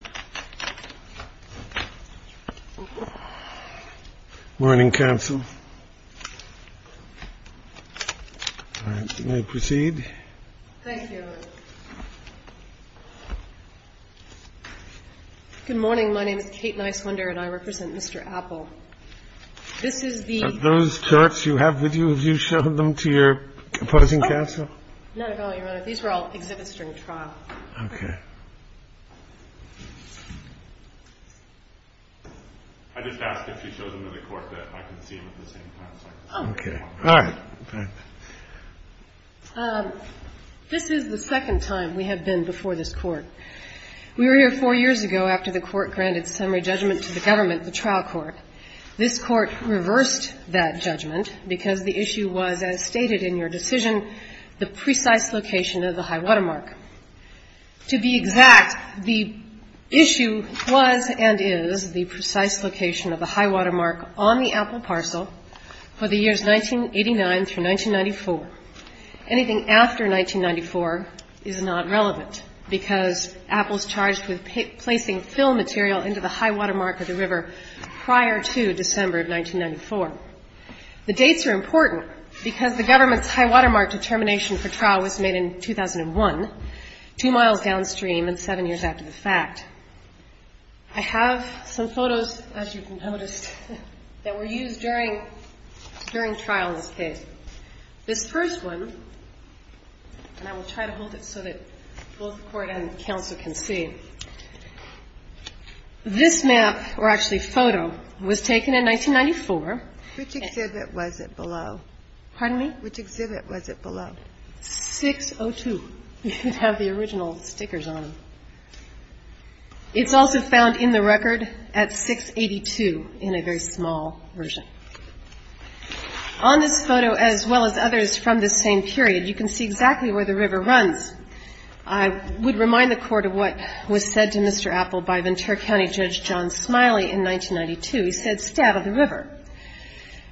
Good morning, my name is Kate Niswender and I represent Mr. Appel. This is the... Are those charts you have with you, have you shown them to your opposing counsel? No, Your Honor, these were all exhibits during trial. Okay. I just asked if she showed them to the Court that I could see them at the same time. Okay. All right. This is the second time we have been before this Court. We were here four years ago after the Court granted summary judgment to the government, the trial court. This Court reversed that judgment because the issue was as stated in your decision, the precise location of the high-water mark. To be exact, the issue was and is the precise location of the high-water mark on the APPEL parcel for the years 1989 through 1994. Anything after 1994 is not relevant because APPEL is charged with placing fill material into the high-water mark of the river prior to December of 1994. The dates are important because the government's high-water mark determination for trial was made in 2001, two miles downstream and seven years after the fact. I have some photos, as you can notice, that were used during trial in this case. This first one, and I will try to hold it so that both the Court and counsel can see, this map, or actually photo, was taken in 1994. Which exhibit was it below? Pardon me? Which exhibit was it below? 602. You can have the original stickers on them. It's also found in the record at 682 in a very small version. On this photo, as well as others from this same period, you can see exactly where the river runs. I would remind the Court of what was said to Mr. APPEL by Ventura County Judge John Smiley in 1992. He said, stab at the river.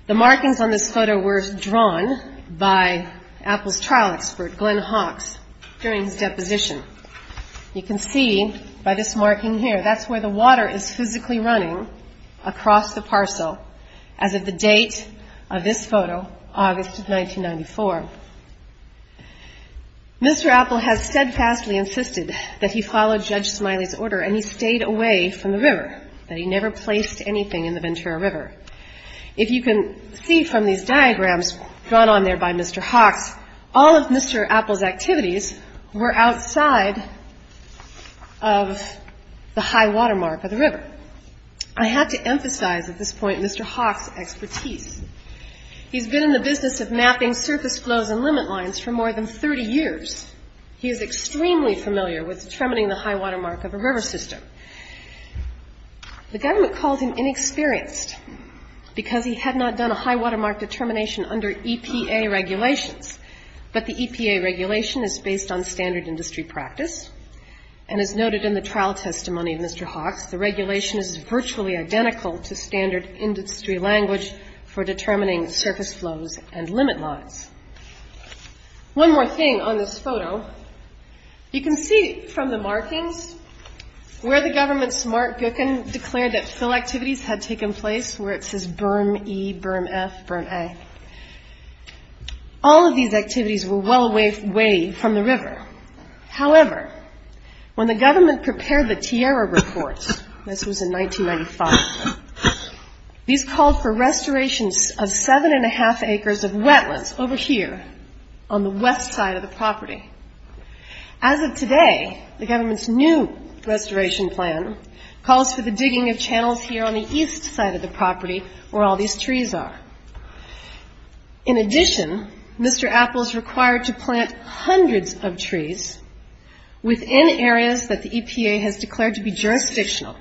The markings on this photo were drawn by APPEL's trial expert, Glenn Hawks, during his deposition. You can see by this marking here, that's where the water is physically running across the parcel as of the date of this photo, August of 1994. Mr. APPEL has steadfastly insisted that he followed Judge Smiley's order, and he stayed away from the river, that he never placed anything in the Ventura River. If you can see from these diagrams drawn on there by Mr. Hawks, all of Mr. APPEL's activities were outside of the high water mark of the river. I have to emphasize at this point Mr. Hawks' expertise. He's been in the business of mapping surface flows and limit lines for more than 30 years. He is extremely familiar with determining the high water mark of a river system. The government called him inexperienced because he had not done a high water mark determination under EPA regulations, but the EPA regulation is based on standard industry practice, and as noted in the trial testimony of Mr. Hawks, the regulation is virtually identical to standard industry language for determining surface flows and limit lines. One more thing on this photo. You can see from the markings where the government's Mark Gookin declared that fill activities had taken place, where it says berm E, berm F, berm A. All of these activities were well away from the river. However, when the government prepared the TIERRA reports, this was in 1995, these called for restorations of 7 1⁄2 acres of wetlands over here on the west side of the property. As of today, the government's new restoration plan calls for the digging of channels here on the east side of the property where all these trees are. In addition, Mr. Apple is required to plant hundreds of trees within areas that the EPA has declared to be jurisdictional,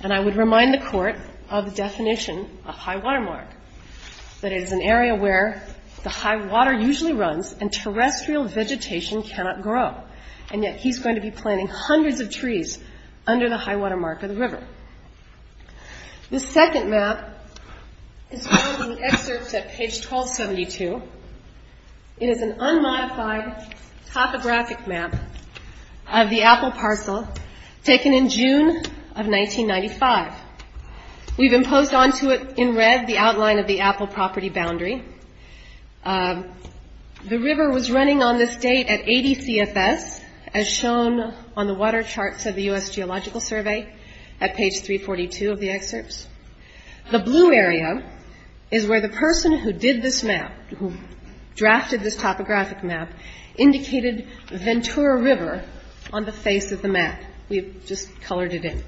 and I would remind the court of the definition of high water mark, that it is an area where the high water usually runs and terrestrial vegetation cannot grow, and yet he's going to be planting hundreds of trees under the high water mark of the river. The second map is found in the excerpts at page 1272. It is an unmodified topographic map of the Apple parcel taken in June of 1995. We've imposed onto it in red the outline of the Apple property boundary. The river was running on this date at 80 CFS, as shown on the water charts of the U.S. Geological Survey at page 342 of the excerpts. The blue area is where the person who did this map, who drafted this topographic map, indicated Ventura River on the face of the map. We've just colored it in.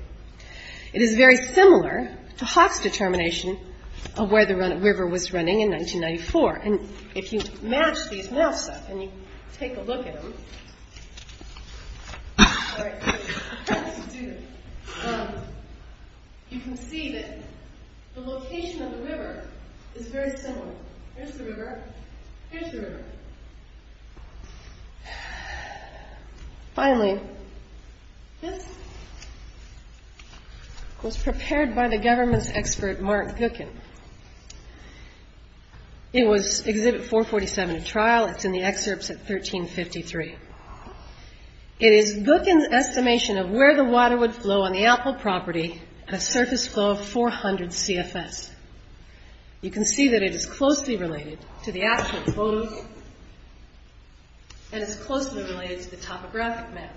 It is very similar to Hawk's determination of where the river was running in 1994, and if you match these maps up and you take a look at them, you can see that the location of the river is very similar. Here's the river. Here's the river. Finally, this was prepared by the government's expert, Mark Gookin. It was exhibit 447 of trial. It's in the excerpts at 1353. It is Gookin's estimation of where the water would flow on the Apple property at a surface flow of 400 CFS. You can see that it is closely related to the actual photos, and it's closely related to the topographic map.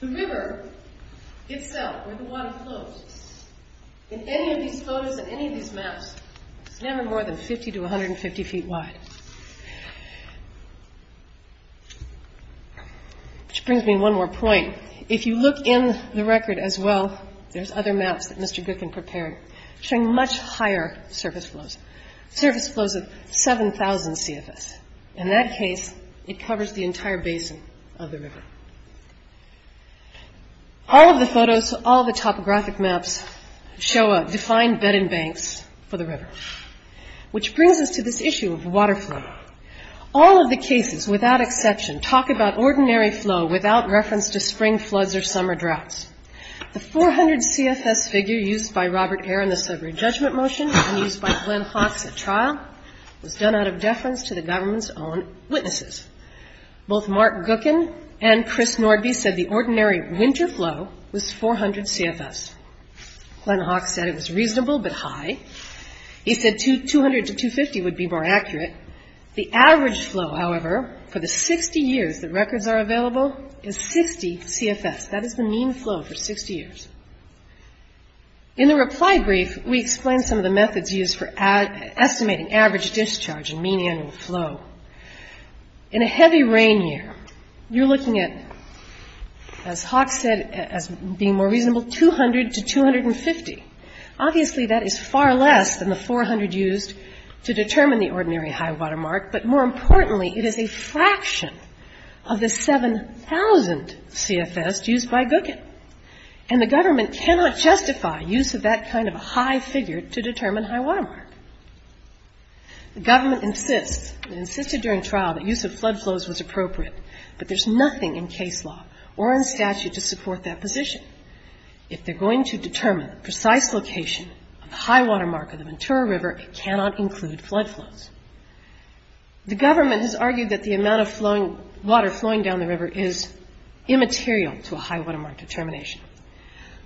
The river itself, where the water flows, in any of these photos, in any of these maps, is never more than 50 to 150 feet wide. Which brings me to one more point. If you look in the record as well, there's other maps that Mr. Gookin prepared showing much higher surface flows, surface flows of 7,000 CFS. In that case, it covers the entire basin of the river. All of the photos, all of the topographic maps show a defined bed and banks for the river. Which brings us to this issue of water flow. All of the cases, without exception, talk about ordinary flow without reference to spring floods or summer droughts. The 400 CFS figure used by Robert Eyre in the Sudbury Judgment Motion and used by Glenn Haas at trial was done out of deference to the government's own witnesses. Both Mark Gookin and Chris Nordby said the ordinary winter flow was 400 CFS. Glenn Haas said it was reasonable but high. He said 200 to 250 would be more accurate. The average flow, however, for the 60 years that records are available, is 60 CFS. That is the mean flow for 60 years. In the reply brief, we explained some of the methods used for estimating average discharge and mean annual flow. In a heavy rain year, you're looking at, as Haas said, as being more reasonable, 200 to 250. Obviously, that is far less than the 400 used to determine the ordinary high water mark, but more importantly, it is a fraction of the 7,000 CFS used by Gookin. And the government cannot justify use of that kind of high figure to determine high water mark. The government insists and insisted during trial that use of flood flows was appropriate, but there's nothing in case law or in statute to support that position. If they're going to determine the precise location of the high water mark of the Ventura River, it cannot include flood flows. The government has argued that the amount of water flowing down the river is immaterial to a high water mark determination.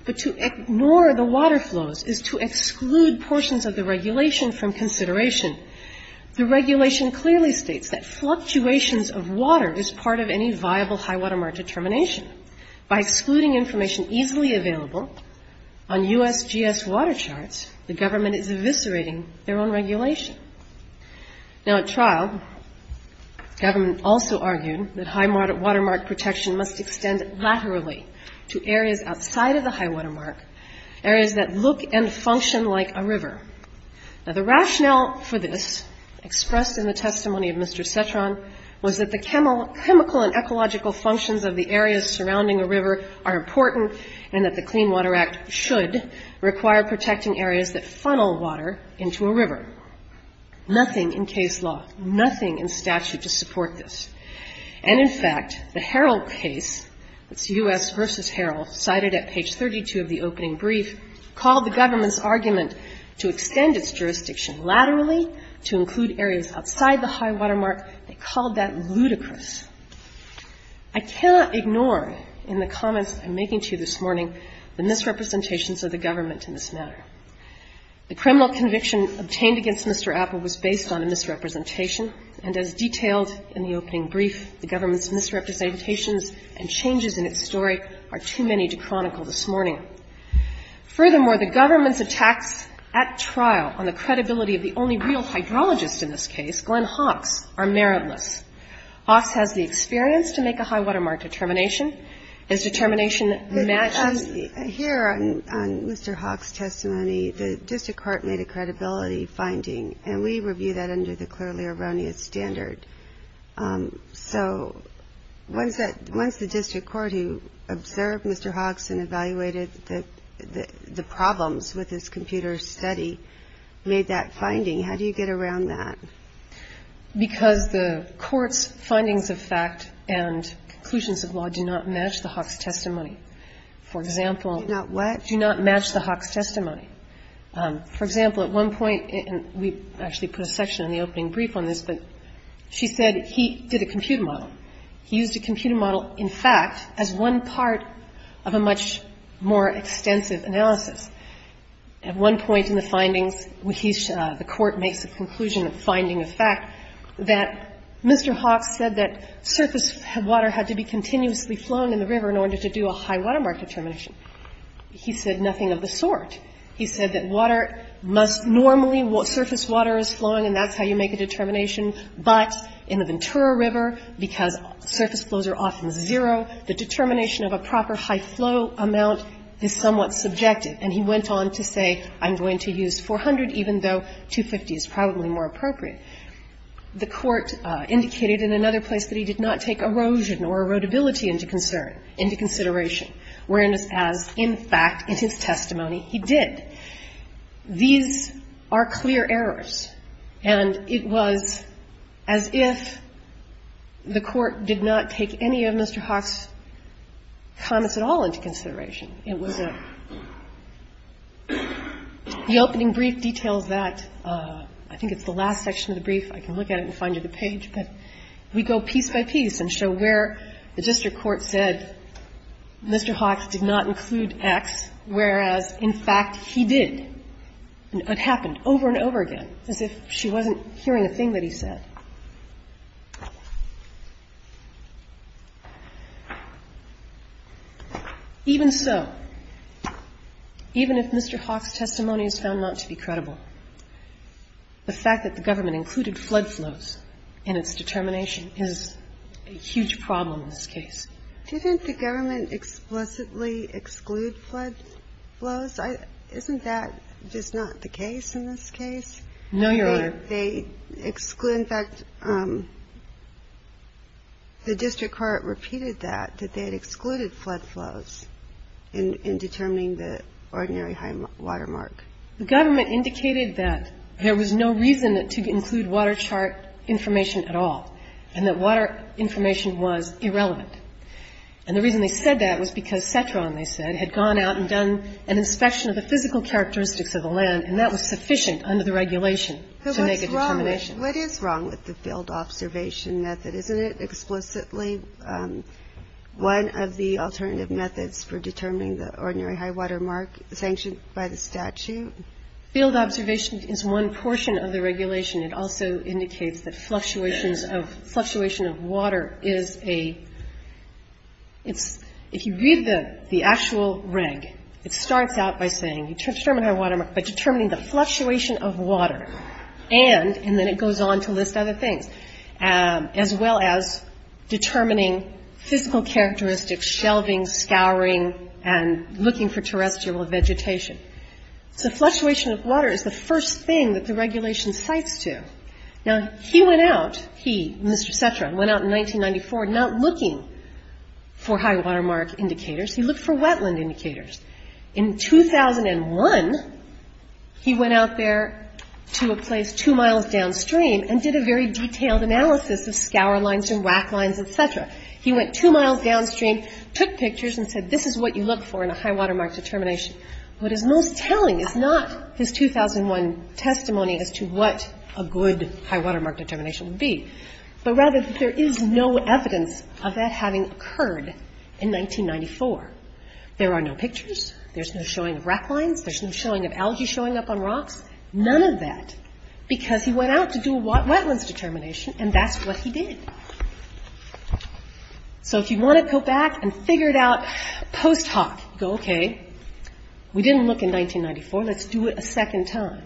But to ignore the water flows is to exclude portions of the regulation from consideration. The regulation clearly states that fluctuations of water is part of any viable high water mark determination. By excluding information easily available on USGS water charts, the government is eviscerating their own regulation. Now, at trial, government also argued that high water mark protection must extend laterally to areas outside of the high water mark, areas that look and function like a river. Now, the rationale for this, expressed in the testimony of Mr. Cetron, was that the chemical and ecological functions of the areas surrounding a river are important and that the Clean Water Act should require protecting areas that funnel water into a river. Nothing in case law, nothing in statute to support this. And, in fact, the Harrell case, it's U.S. versus Harrell, cited at page 32 of the opening brief, called the government's argument to extend its jurisdiction laterally to include areas outside the high water mark, they called that ludicrous. I cannot ignore, in the comments I'm making to you this morning, the misrepresentations of the government in this matter. The criminal conviction obtained against Mr. Appel was based on a misrepresentation, and as detailed in the opening brief, the government's misrepresentations and changes in its story are too many to chronicle this morning. Furthermore, the government's attacks at trial on the credibility of the only real hydrologist in this case, Glenn Hawks, are meritless. Hawks has the experience to make a high water mark determination. His determination matches... Here, on Mr. Hawks' testimony, the district court made a credibility finding, and we review that under the clearly erroneous standard. So once the district court, who observed Mr. Hawks and evaluated the problems with his computer study, made that finding, how do you get around that? Because the court's findings of fact and conclusions of law do not match the Hawks' testimony. For example... Do not what? Do not match the Hawks' testimony. For example, at one point, and we actually put a section in the opening brief on this, but she said he did a computer model. He used a computer model, in fact, as one part of a much more extensive analysis. At one point in the findings, the court makes a conclusion of finding of fact that Mr. Hawks said that surface water had to be continuously flowing in the river in order to do a high water mark determination. He said nothing of the sort. He said that water must normally... be used for a high water mark determination, but in the Ventura River, because surface flows are often zero, the determination of a proper high flow amount is somewhat subjective. And he went on to say, I'm going to use 400 even though 250 is probably more appropriate. The court indicated in another place that he did not take erosion or erodibility into concern, into consideration, whereas, as in fact in his testimony, he did. These are clear errors, and it was as if the court did not take any of Mr. Hawks' comments at all into consideration. It was a... The opening brief details that. I think it's the last section of the brief. I can look at it and find you the page, but we go piece by piece and show where the district court said Mr. Hawks did not include X, whereas, in fact, he did. And it happened over and over again, as if she wasn't hearing a thing that he said. Even so, even if Mr. Hawks' testimony is found not to be credible, the fact that the government included flood flows in its determination is a huge problem in this case. Didn't the government explicitly exclude flood flows? Isn't that just not the case in this case? No, Your Honor. They exclude. In fact, the district court repeated that, that they had excluded flood flows in determining the ordinary high water mark. The government indicated that there was no reason to include water chart information at all and that water information was irrelevant. And the reason they said that was because CETRON, they said, had gone out and done an inspection of the physical characteristics of the land and that was sufficient under the regulation to make a determination. But what's wrong with the field observation method? Isn't it explicitly one of the alternative methods for determining the ordinary high water mark sanctioned by the statute? Field observation is one portion of the regulation. It also indicates that fluctuations of, fluctuation of water is a, it's, if you read the actual reg, it starts out by saying, determining the fluctuation of water and, and then it goes on to list other things, as well as determining physical characteristics, shelving, scouring, and looking for terrestrial vegetation. So fluctuation of water is the first thing that the regulation cites to. Now, he went out, he, Mr. CETRON, went out in 1994 not looking for high water mark indicators. He looked for wetland indicators. In 2001, he went out there to a place two miles downstream and did a very detailed analysis of scour lines and whack lines, etc. He went two miles downstream, took pictures, and said, this is what you look for in a high water mark determination. What is most telling is not his 2001 testimony as to what a good high water mark determination would be, but rather that there is no evidence of that having occurred in 1994. There are no pictures. There's no showing of rack lines. There's no showing of algae showing up on rocks. None of that because he went out to do a wetlands determination and that's what he did. So if you want to go back and figure it out post hoc, you go, okay, we didn't look in 1994. Let's do it a second time.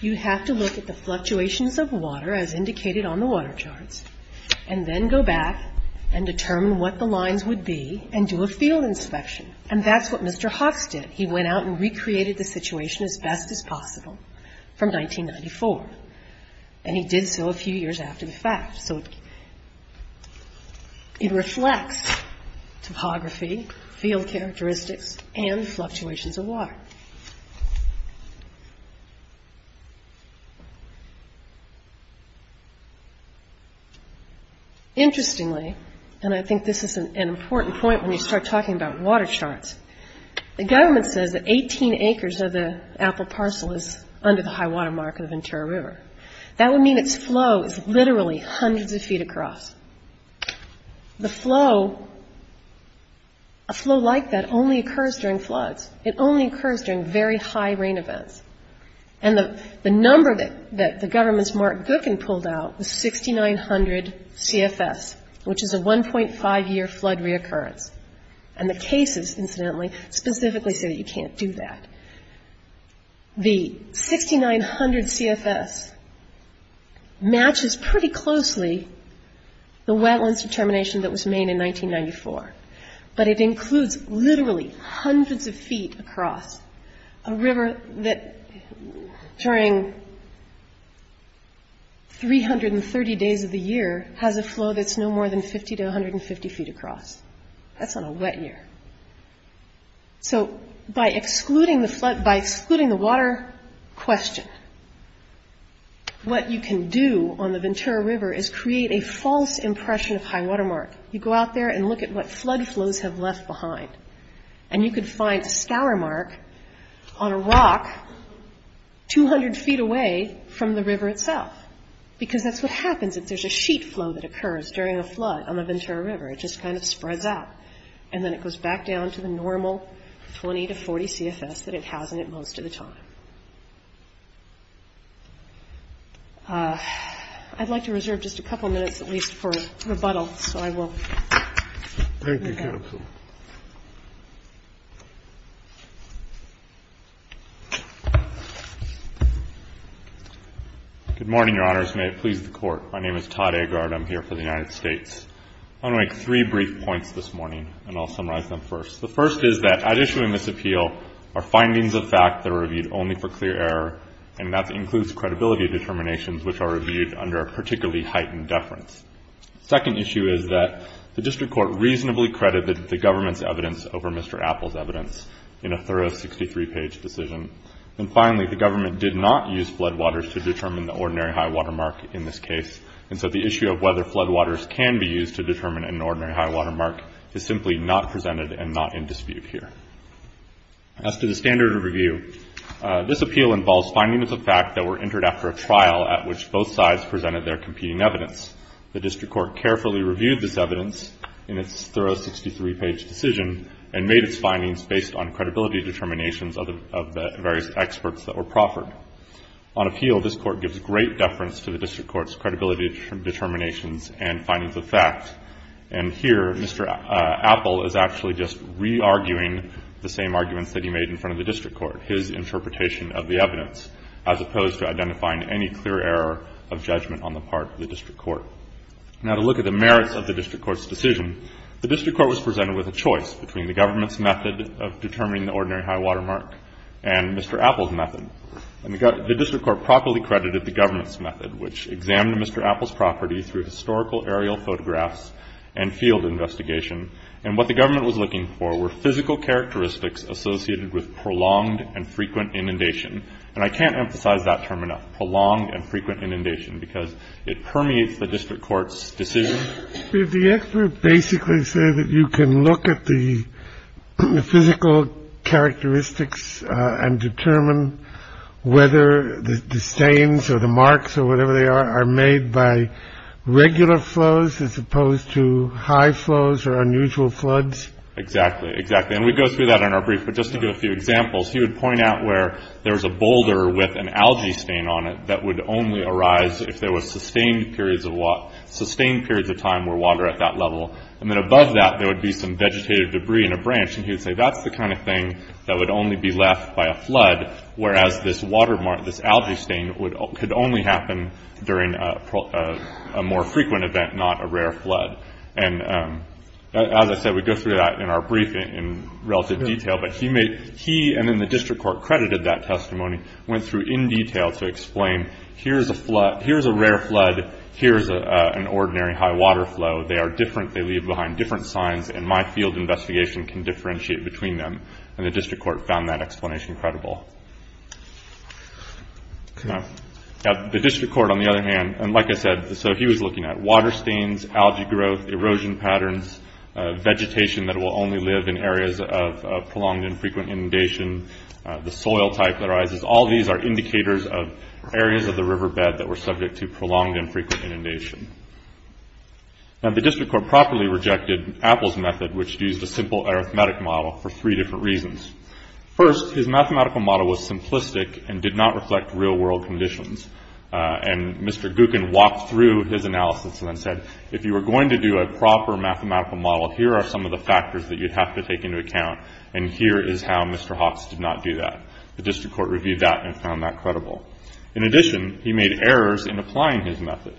You have to look at the fluctuations of water as indicated on the water charts and then go back and determine what the lines would be and do a field inspection, and that's what Mr. Haas did. He went out and recreated the situation as best as possible from 1994, and he did so a few years after the fact. So it reflects topography, field characteristics, and fluctuations of water. Interestingly, and I think this is an important point when you start talking about water charts, the government says that 18 acres of the apple parcel is under the high water mark of the Ventura River. That would mean its flow is literally hundreds of feet across. The flow, a flow like that only occurs during floods. It only occurs during very high rain events. And the number that the government's Mark Gookin pulled out was 6,900 CFS, which is a 1.5-year flood reoccurrence. And the cases, incidentally, specifically say you can't do that. The 6,900 CFS matches pretty closely the wetlands determination that was made in 1994, but it includes literally hundreds of feet across a river that during 330 days of the year has a flow that's no more than 50 to 150 feet across. That's on a wet year. So by excluding the flood, by excluding the water question, what you can do on the Ventura River is create a false impression of high water mark. You go out there and look at what flood flows have left behind. And you could find a scour mark on a rock 200 feet away from the river itself because that's what happens if there's a sheet flow that occurs during a flood on the Ventura River. It just kind of spreads out, and then it goes back down to the normal 20 to 40 CFS that it has in it most of the time. I'd like to reserve just a couple minutes at least for rebuttal, so I will move on. Thank you, counsel. Good morning, Your Honors. May it please the Court. My name is Todd Agard. I'm here for the United States. I want to make three brief points this morning, and I'll summarize them first. The first is that at issuing this appeal are findings of fact that are reviewed only for clear error, and that includes credibility determinations which are reviewed under a particularly heightened deference. The second issue is that the District Court reasonably credited the government's evidence over Mr. Apple's evidence in a thorough 63-page decision. And finally, the government did not use floodwaters to determine the ordinary high water mark in this case, and so the issue of whether floodwaters can be used to determine an ordinary high water mark is simply not presented and not in dispute here. As to the standard of review, this appeal involves findings of fact that were entered after a trial at which both sides presented their competing evidence. The District Court carefully reviewed this evidence in its thorough 63-page decision and made its findings based on credibility determinations of the various experts that were proffered. On appeal, this Court gives great deference to the District Court's credibility determinations and findings of fact, and here Mr. Apple is actually just re-arguing the same arguments that he made in front of the District Court, his interpretation of the evidence, as opposed to identifying any clear error of judgment on the part of the District Court. Now to look at the merits of the District Court's decision, the District Court was presented with a choice between the government's method of determining the ordinary high water mark and Mr. Apple's method. The District Court properly credited the government's method, which examined Mr. Apple's property through historical aerial photographs and field investigation, and what the government was looking for were physical characteristics associated with prolonged and frequent inundation. And I can't emphasize that term enough, prolonged and frequent inundation, because it permeates the District Court's decision. The expert basically said that you can look at the physical characteristics and determine whether the stains or the marks or whatever they are, are made by regular flows as opposed to high flows or unusual floods. Exactly, exactly. And we go through that in our brief, but just to give a few examples, he would point out where there was a boulder with an algae stain on it that would only arise if there were sustained periods of water, sustained periods of time where water at that level, and then above that there would be some vegetative debris in a branch, and he would say that's the kind of thing that would only be left by a flood, whereas this watermark, this algae stain, could only happen during a more frequent event, not a rare flood. And as I said, we go through that in our brief in relative detail, but he and then the District Court credited that testimony, went through in detail to explain, here's a rare flood, here's an ordinary high water flow, they are different, they leave behind different signs, and my field investigation can differentiate between them. And the District Court found that explanation credible. The District Court, on the other hand, and like I said, so he was looking at water stains, algae growth, erosion patterns, vegetation that will only live in areas of prolonged and frequent inundation, the soil type that arises, all these are indicators of areas of the riverbed that were subject to prolonged and frequent inundation. Now the District Court properly rejected Apple's method, which used a simple arithmetic model for three different reasons. First, his mathematical model was simplistic and did not reflect real-world conditions. And Mr. Gookin walked through his analysis and then said, if you were going to do a proper mathematical model, here are some of the factors that you'd have to take into account, and here is how Mr. Hawks did not do that. The District Court reviewed that and found that credible. In addition, he made errors in applying his method.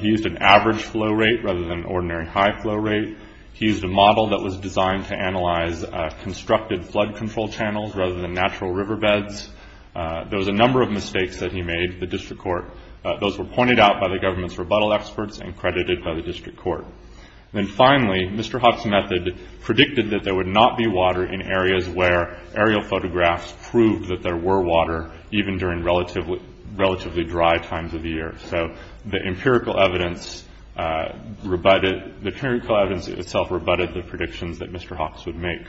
He used an average flow rate rather than an ordinary high flow rate. He used a model that was designed to analyze constructed flood control channels rather than natural riverbeds. There was a number of mistakes that he made at the District Court. Those were pointed out by the government's rebuttal experts and credited by the District Court. And finally, Mr. Hawks' method predicted that there would not be water in areas where aerial photographs proved that there were water, even during relatively dry times of the year. So the empirical evidence rebutted the predictions that Mr. Hawks would make.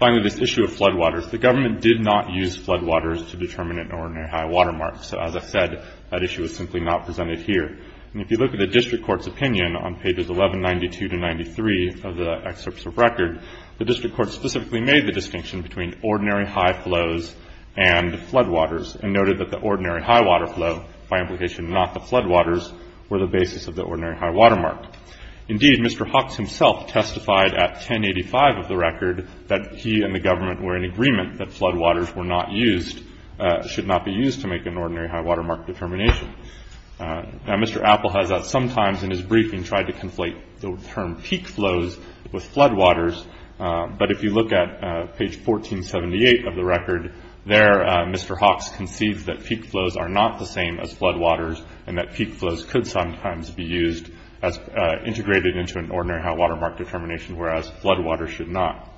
Finally, this issue of floodwaters. The government did not use floodwaters to determine an ordinary high water mark. So as I said, that issue was simply not presented here. And if you look at the District Court's opinion on pages 1192 to 93 of the excerpts of record, the District Court specifically made the distinction between ordinary high flows and floodwaters and noted that the ordinary high water flow, by implication not the floodwaters, were the basis of the ordinary high water mark. Indeed, Mr. Hawks himself testified at 1085 of the record that he and the government were in agreement that floodwaters were not used, should not be used to make an ordinary high water mark determination. Now, Mr. Apple has at some times in his briefing tried to conflate the term peak flows with floodwaters. But if you look at page 1478 of the record, there Mr. Hawks conceives that peak flows are not the same as floodwaters and that peak flows could sometimes be used as integrated into an ordinary high water mark determination, whereas floodwaters should not.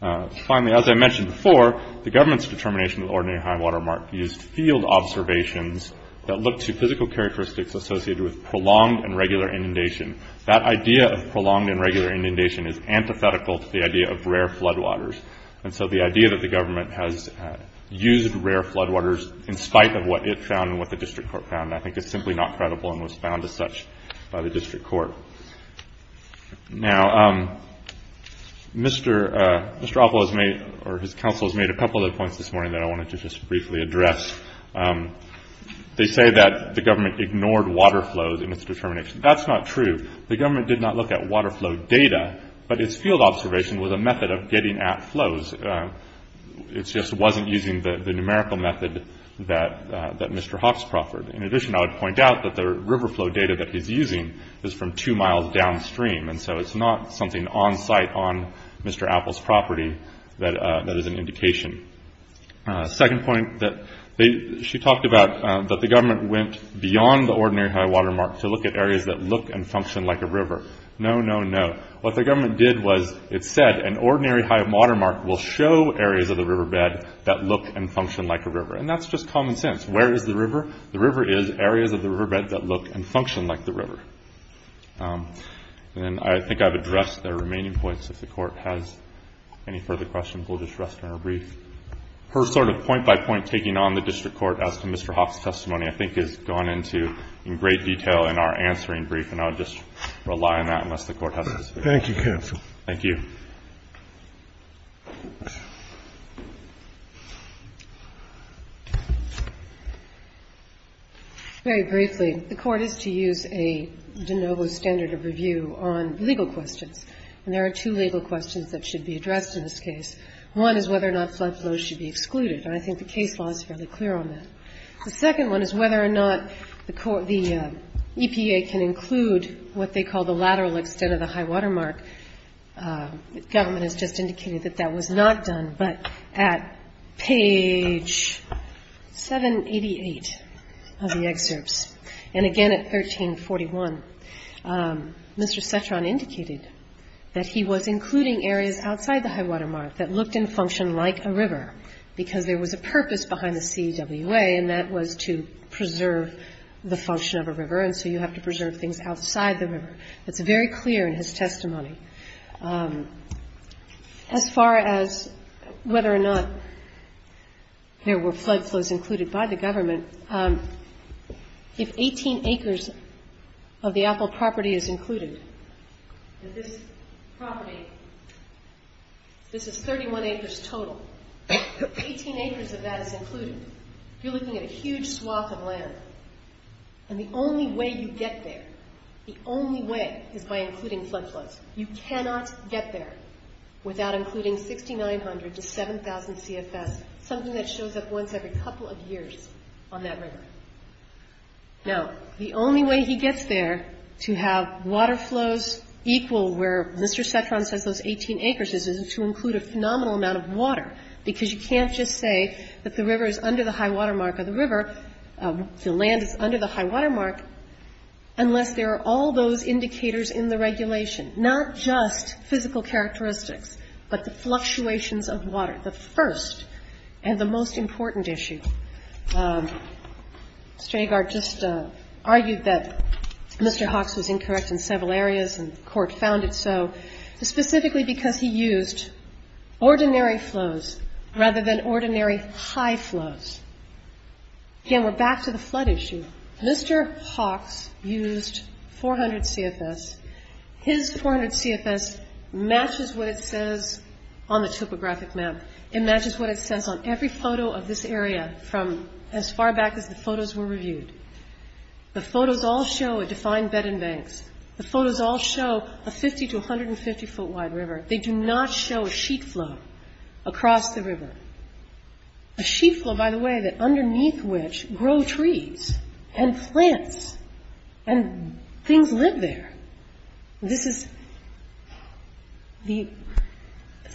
Finally, as I mentioned before, the government's determination of the ordinary high water mark used field observations that looked to physical characteristics associated with prolonged and regular inundation. That idea of prolonged and regular inundation is antithetical to the idea of rare floodwaters. And so the idea that the government has used rare floodwaters in spite of what it found and what the district court found, I think is simply not credible and was found as such by the district court. Now, Mr. Apple has made, or his counsel has made a couple of points this morning that I wanted to just briefly address. They say that the government ignored water flows in its determination. That's not true. The government did not look at water flow data, but its field observation was a method of getting at flows. It just wasn't using the numerical method that Mr. Hawks proffered. In addition, I would point out that the river flow data that he's using is from two miles downstream, and so it's not something on site on Mr. Apple's property that is an indication. Second point that she talked about, that the government went beyond the ordinary high-water mark to look at areas that look and function like a river. No, no, no. What the government did was it said an ordinary high-water mark will show areas of the riverbed that look and function like a river. And that's just common sense. Where is the river? The river is areas of the riverbed that look and function like the river. And I think I've addressed the remaining points. If the court has any further questions, we'll just rest on a brief. Her sort of point-by-point taking on the district court as to Mr. Hawks' testimony I think has gone into great detail in our answering brief, and I'll just rely on that unless the court has to speak. Thank you, counsel. Thank you. Very briefly, the court is to use a de novo standard of review on legal questions, and there are two legal questions that should be addressed in this case. One is whether or not flood flows should be excluded, and I think the case law is fairly clear on that. The second one is whether or not the EPA can include what they call the lateral extent of the high-water mark. The government has just indicated that that was not done, but at page 788 of the excerpts, and again at 1341, Mr. Cetron indicated that he was including areas outside the high-water mark that looked and functioned like a river because there was a purpose behind the CWA, and that was to preserve the function of a river, and so you have to preserve things outside the river. That's very clear in his testimony. As far as whether or not there were flood flows included by the government, if 18 acres of the Apple property is included, this property, this is 31 acres total. 18 acres of that is included. You're looking at a huge swath of land, and the only way you get there, the only way is by including flood flows. You cannot get there without including 6,900 to 7,000 CFS, something that shows up once every couple of years on that river. Now, the only way he gets there to have water flows equal where Mr. Cetron says those 18 acres is is to include a phenomenal amount of water, because you can't just say that the river is under the high-water mark of the river, the land is under the high-water mark, unless there are all those indicators in the regulation, not just physical characteristics, but the fluctuations of water, the first and the most important issue. Mr. Agard just argued that Mr. Hawks was incorrect in several areas, and the court found it so, specifically because he used ordinary flows rather than ordinary high flows. Again, we're back to the flood issue. Mr. Hawks used 400 CFS. His 400 CFS matches what it says on the topographic map. It matches what it says on every photo of this area from as far back as the photos were reviewed. The photos all show a defined bed and banks. The photos all show a 50- to 150-foot-wide river. They do not show a sheet flow across the river, a sheet flow, by the way, that underneath which grow trees and plants, and things live there. This is the...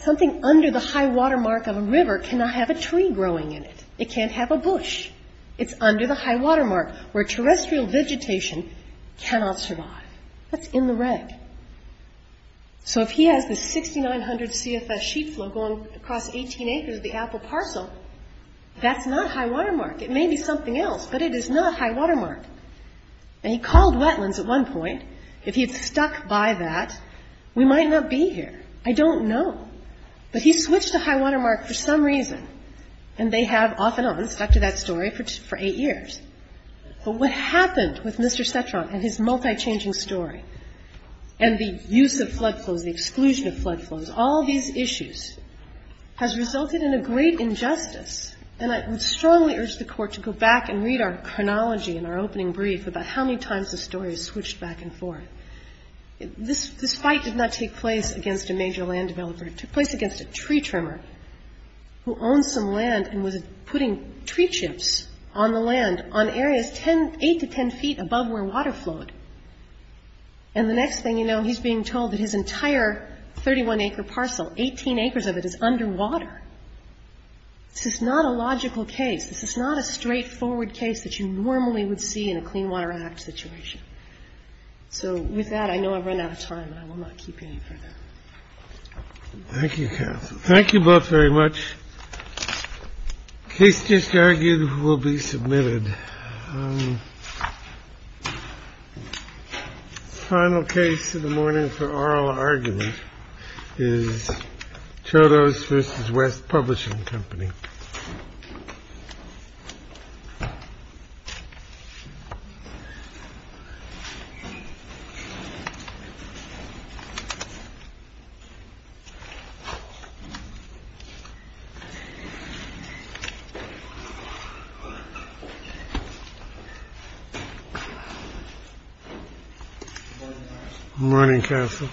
Something under the high-water mark of a river cannot have a tree growing in it. It can't have a bush. It's under the high-water mark, where terrestrial vegetation cannot survive. That's in the reg. So if he has the 6,900 CFS sheet flow going across 18 acres of the Apple parcel, that's not high-water mark. It may be something else, but it is not high-water mark. And he called wetlands at one point. If he had stuck by that, we might not be here. I don't know. But he switched to high-water mark for some reason, and they have off and on stuck to that story for eight years. But what happened with Mr. Cetron and his multi-changing story and the use of flood flows, the exclusion of flood flows, all these issues has resulted in a great injustice, and I would strongly urge the Court to go back and read our chronology in our opening brief about how many times the story is switched back and forth. This fight did not take place against a major land developer. It took place against a tree trimmer who owns some land and was putting tree chips on the land on areas 8 to 10 feet above where water flowed. And the next thing you know, he's being told that his entire 31-acre parcel, 18 acres of it, is underwater. This is not a logical case. This is not a straightforward case that you normally would see in a Clean Water Act situation. So with that, I know I've run out of time, and I will not keep you any further. Thank you, counsel. Thank you both very much. The case just argued will be submitted. The final case of the morning for oral argument is Chodos v. West Publishing Company. Morning, counsel.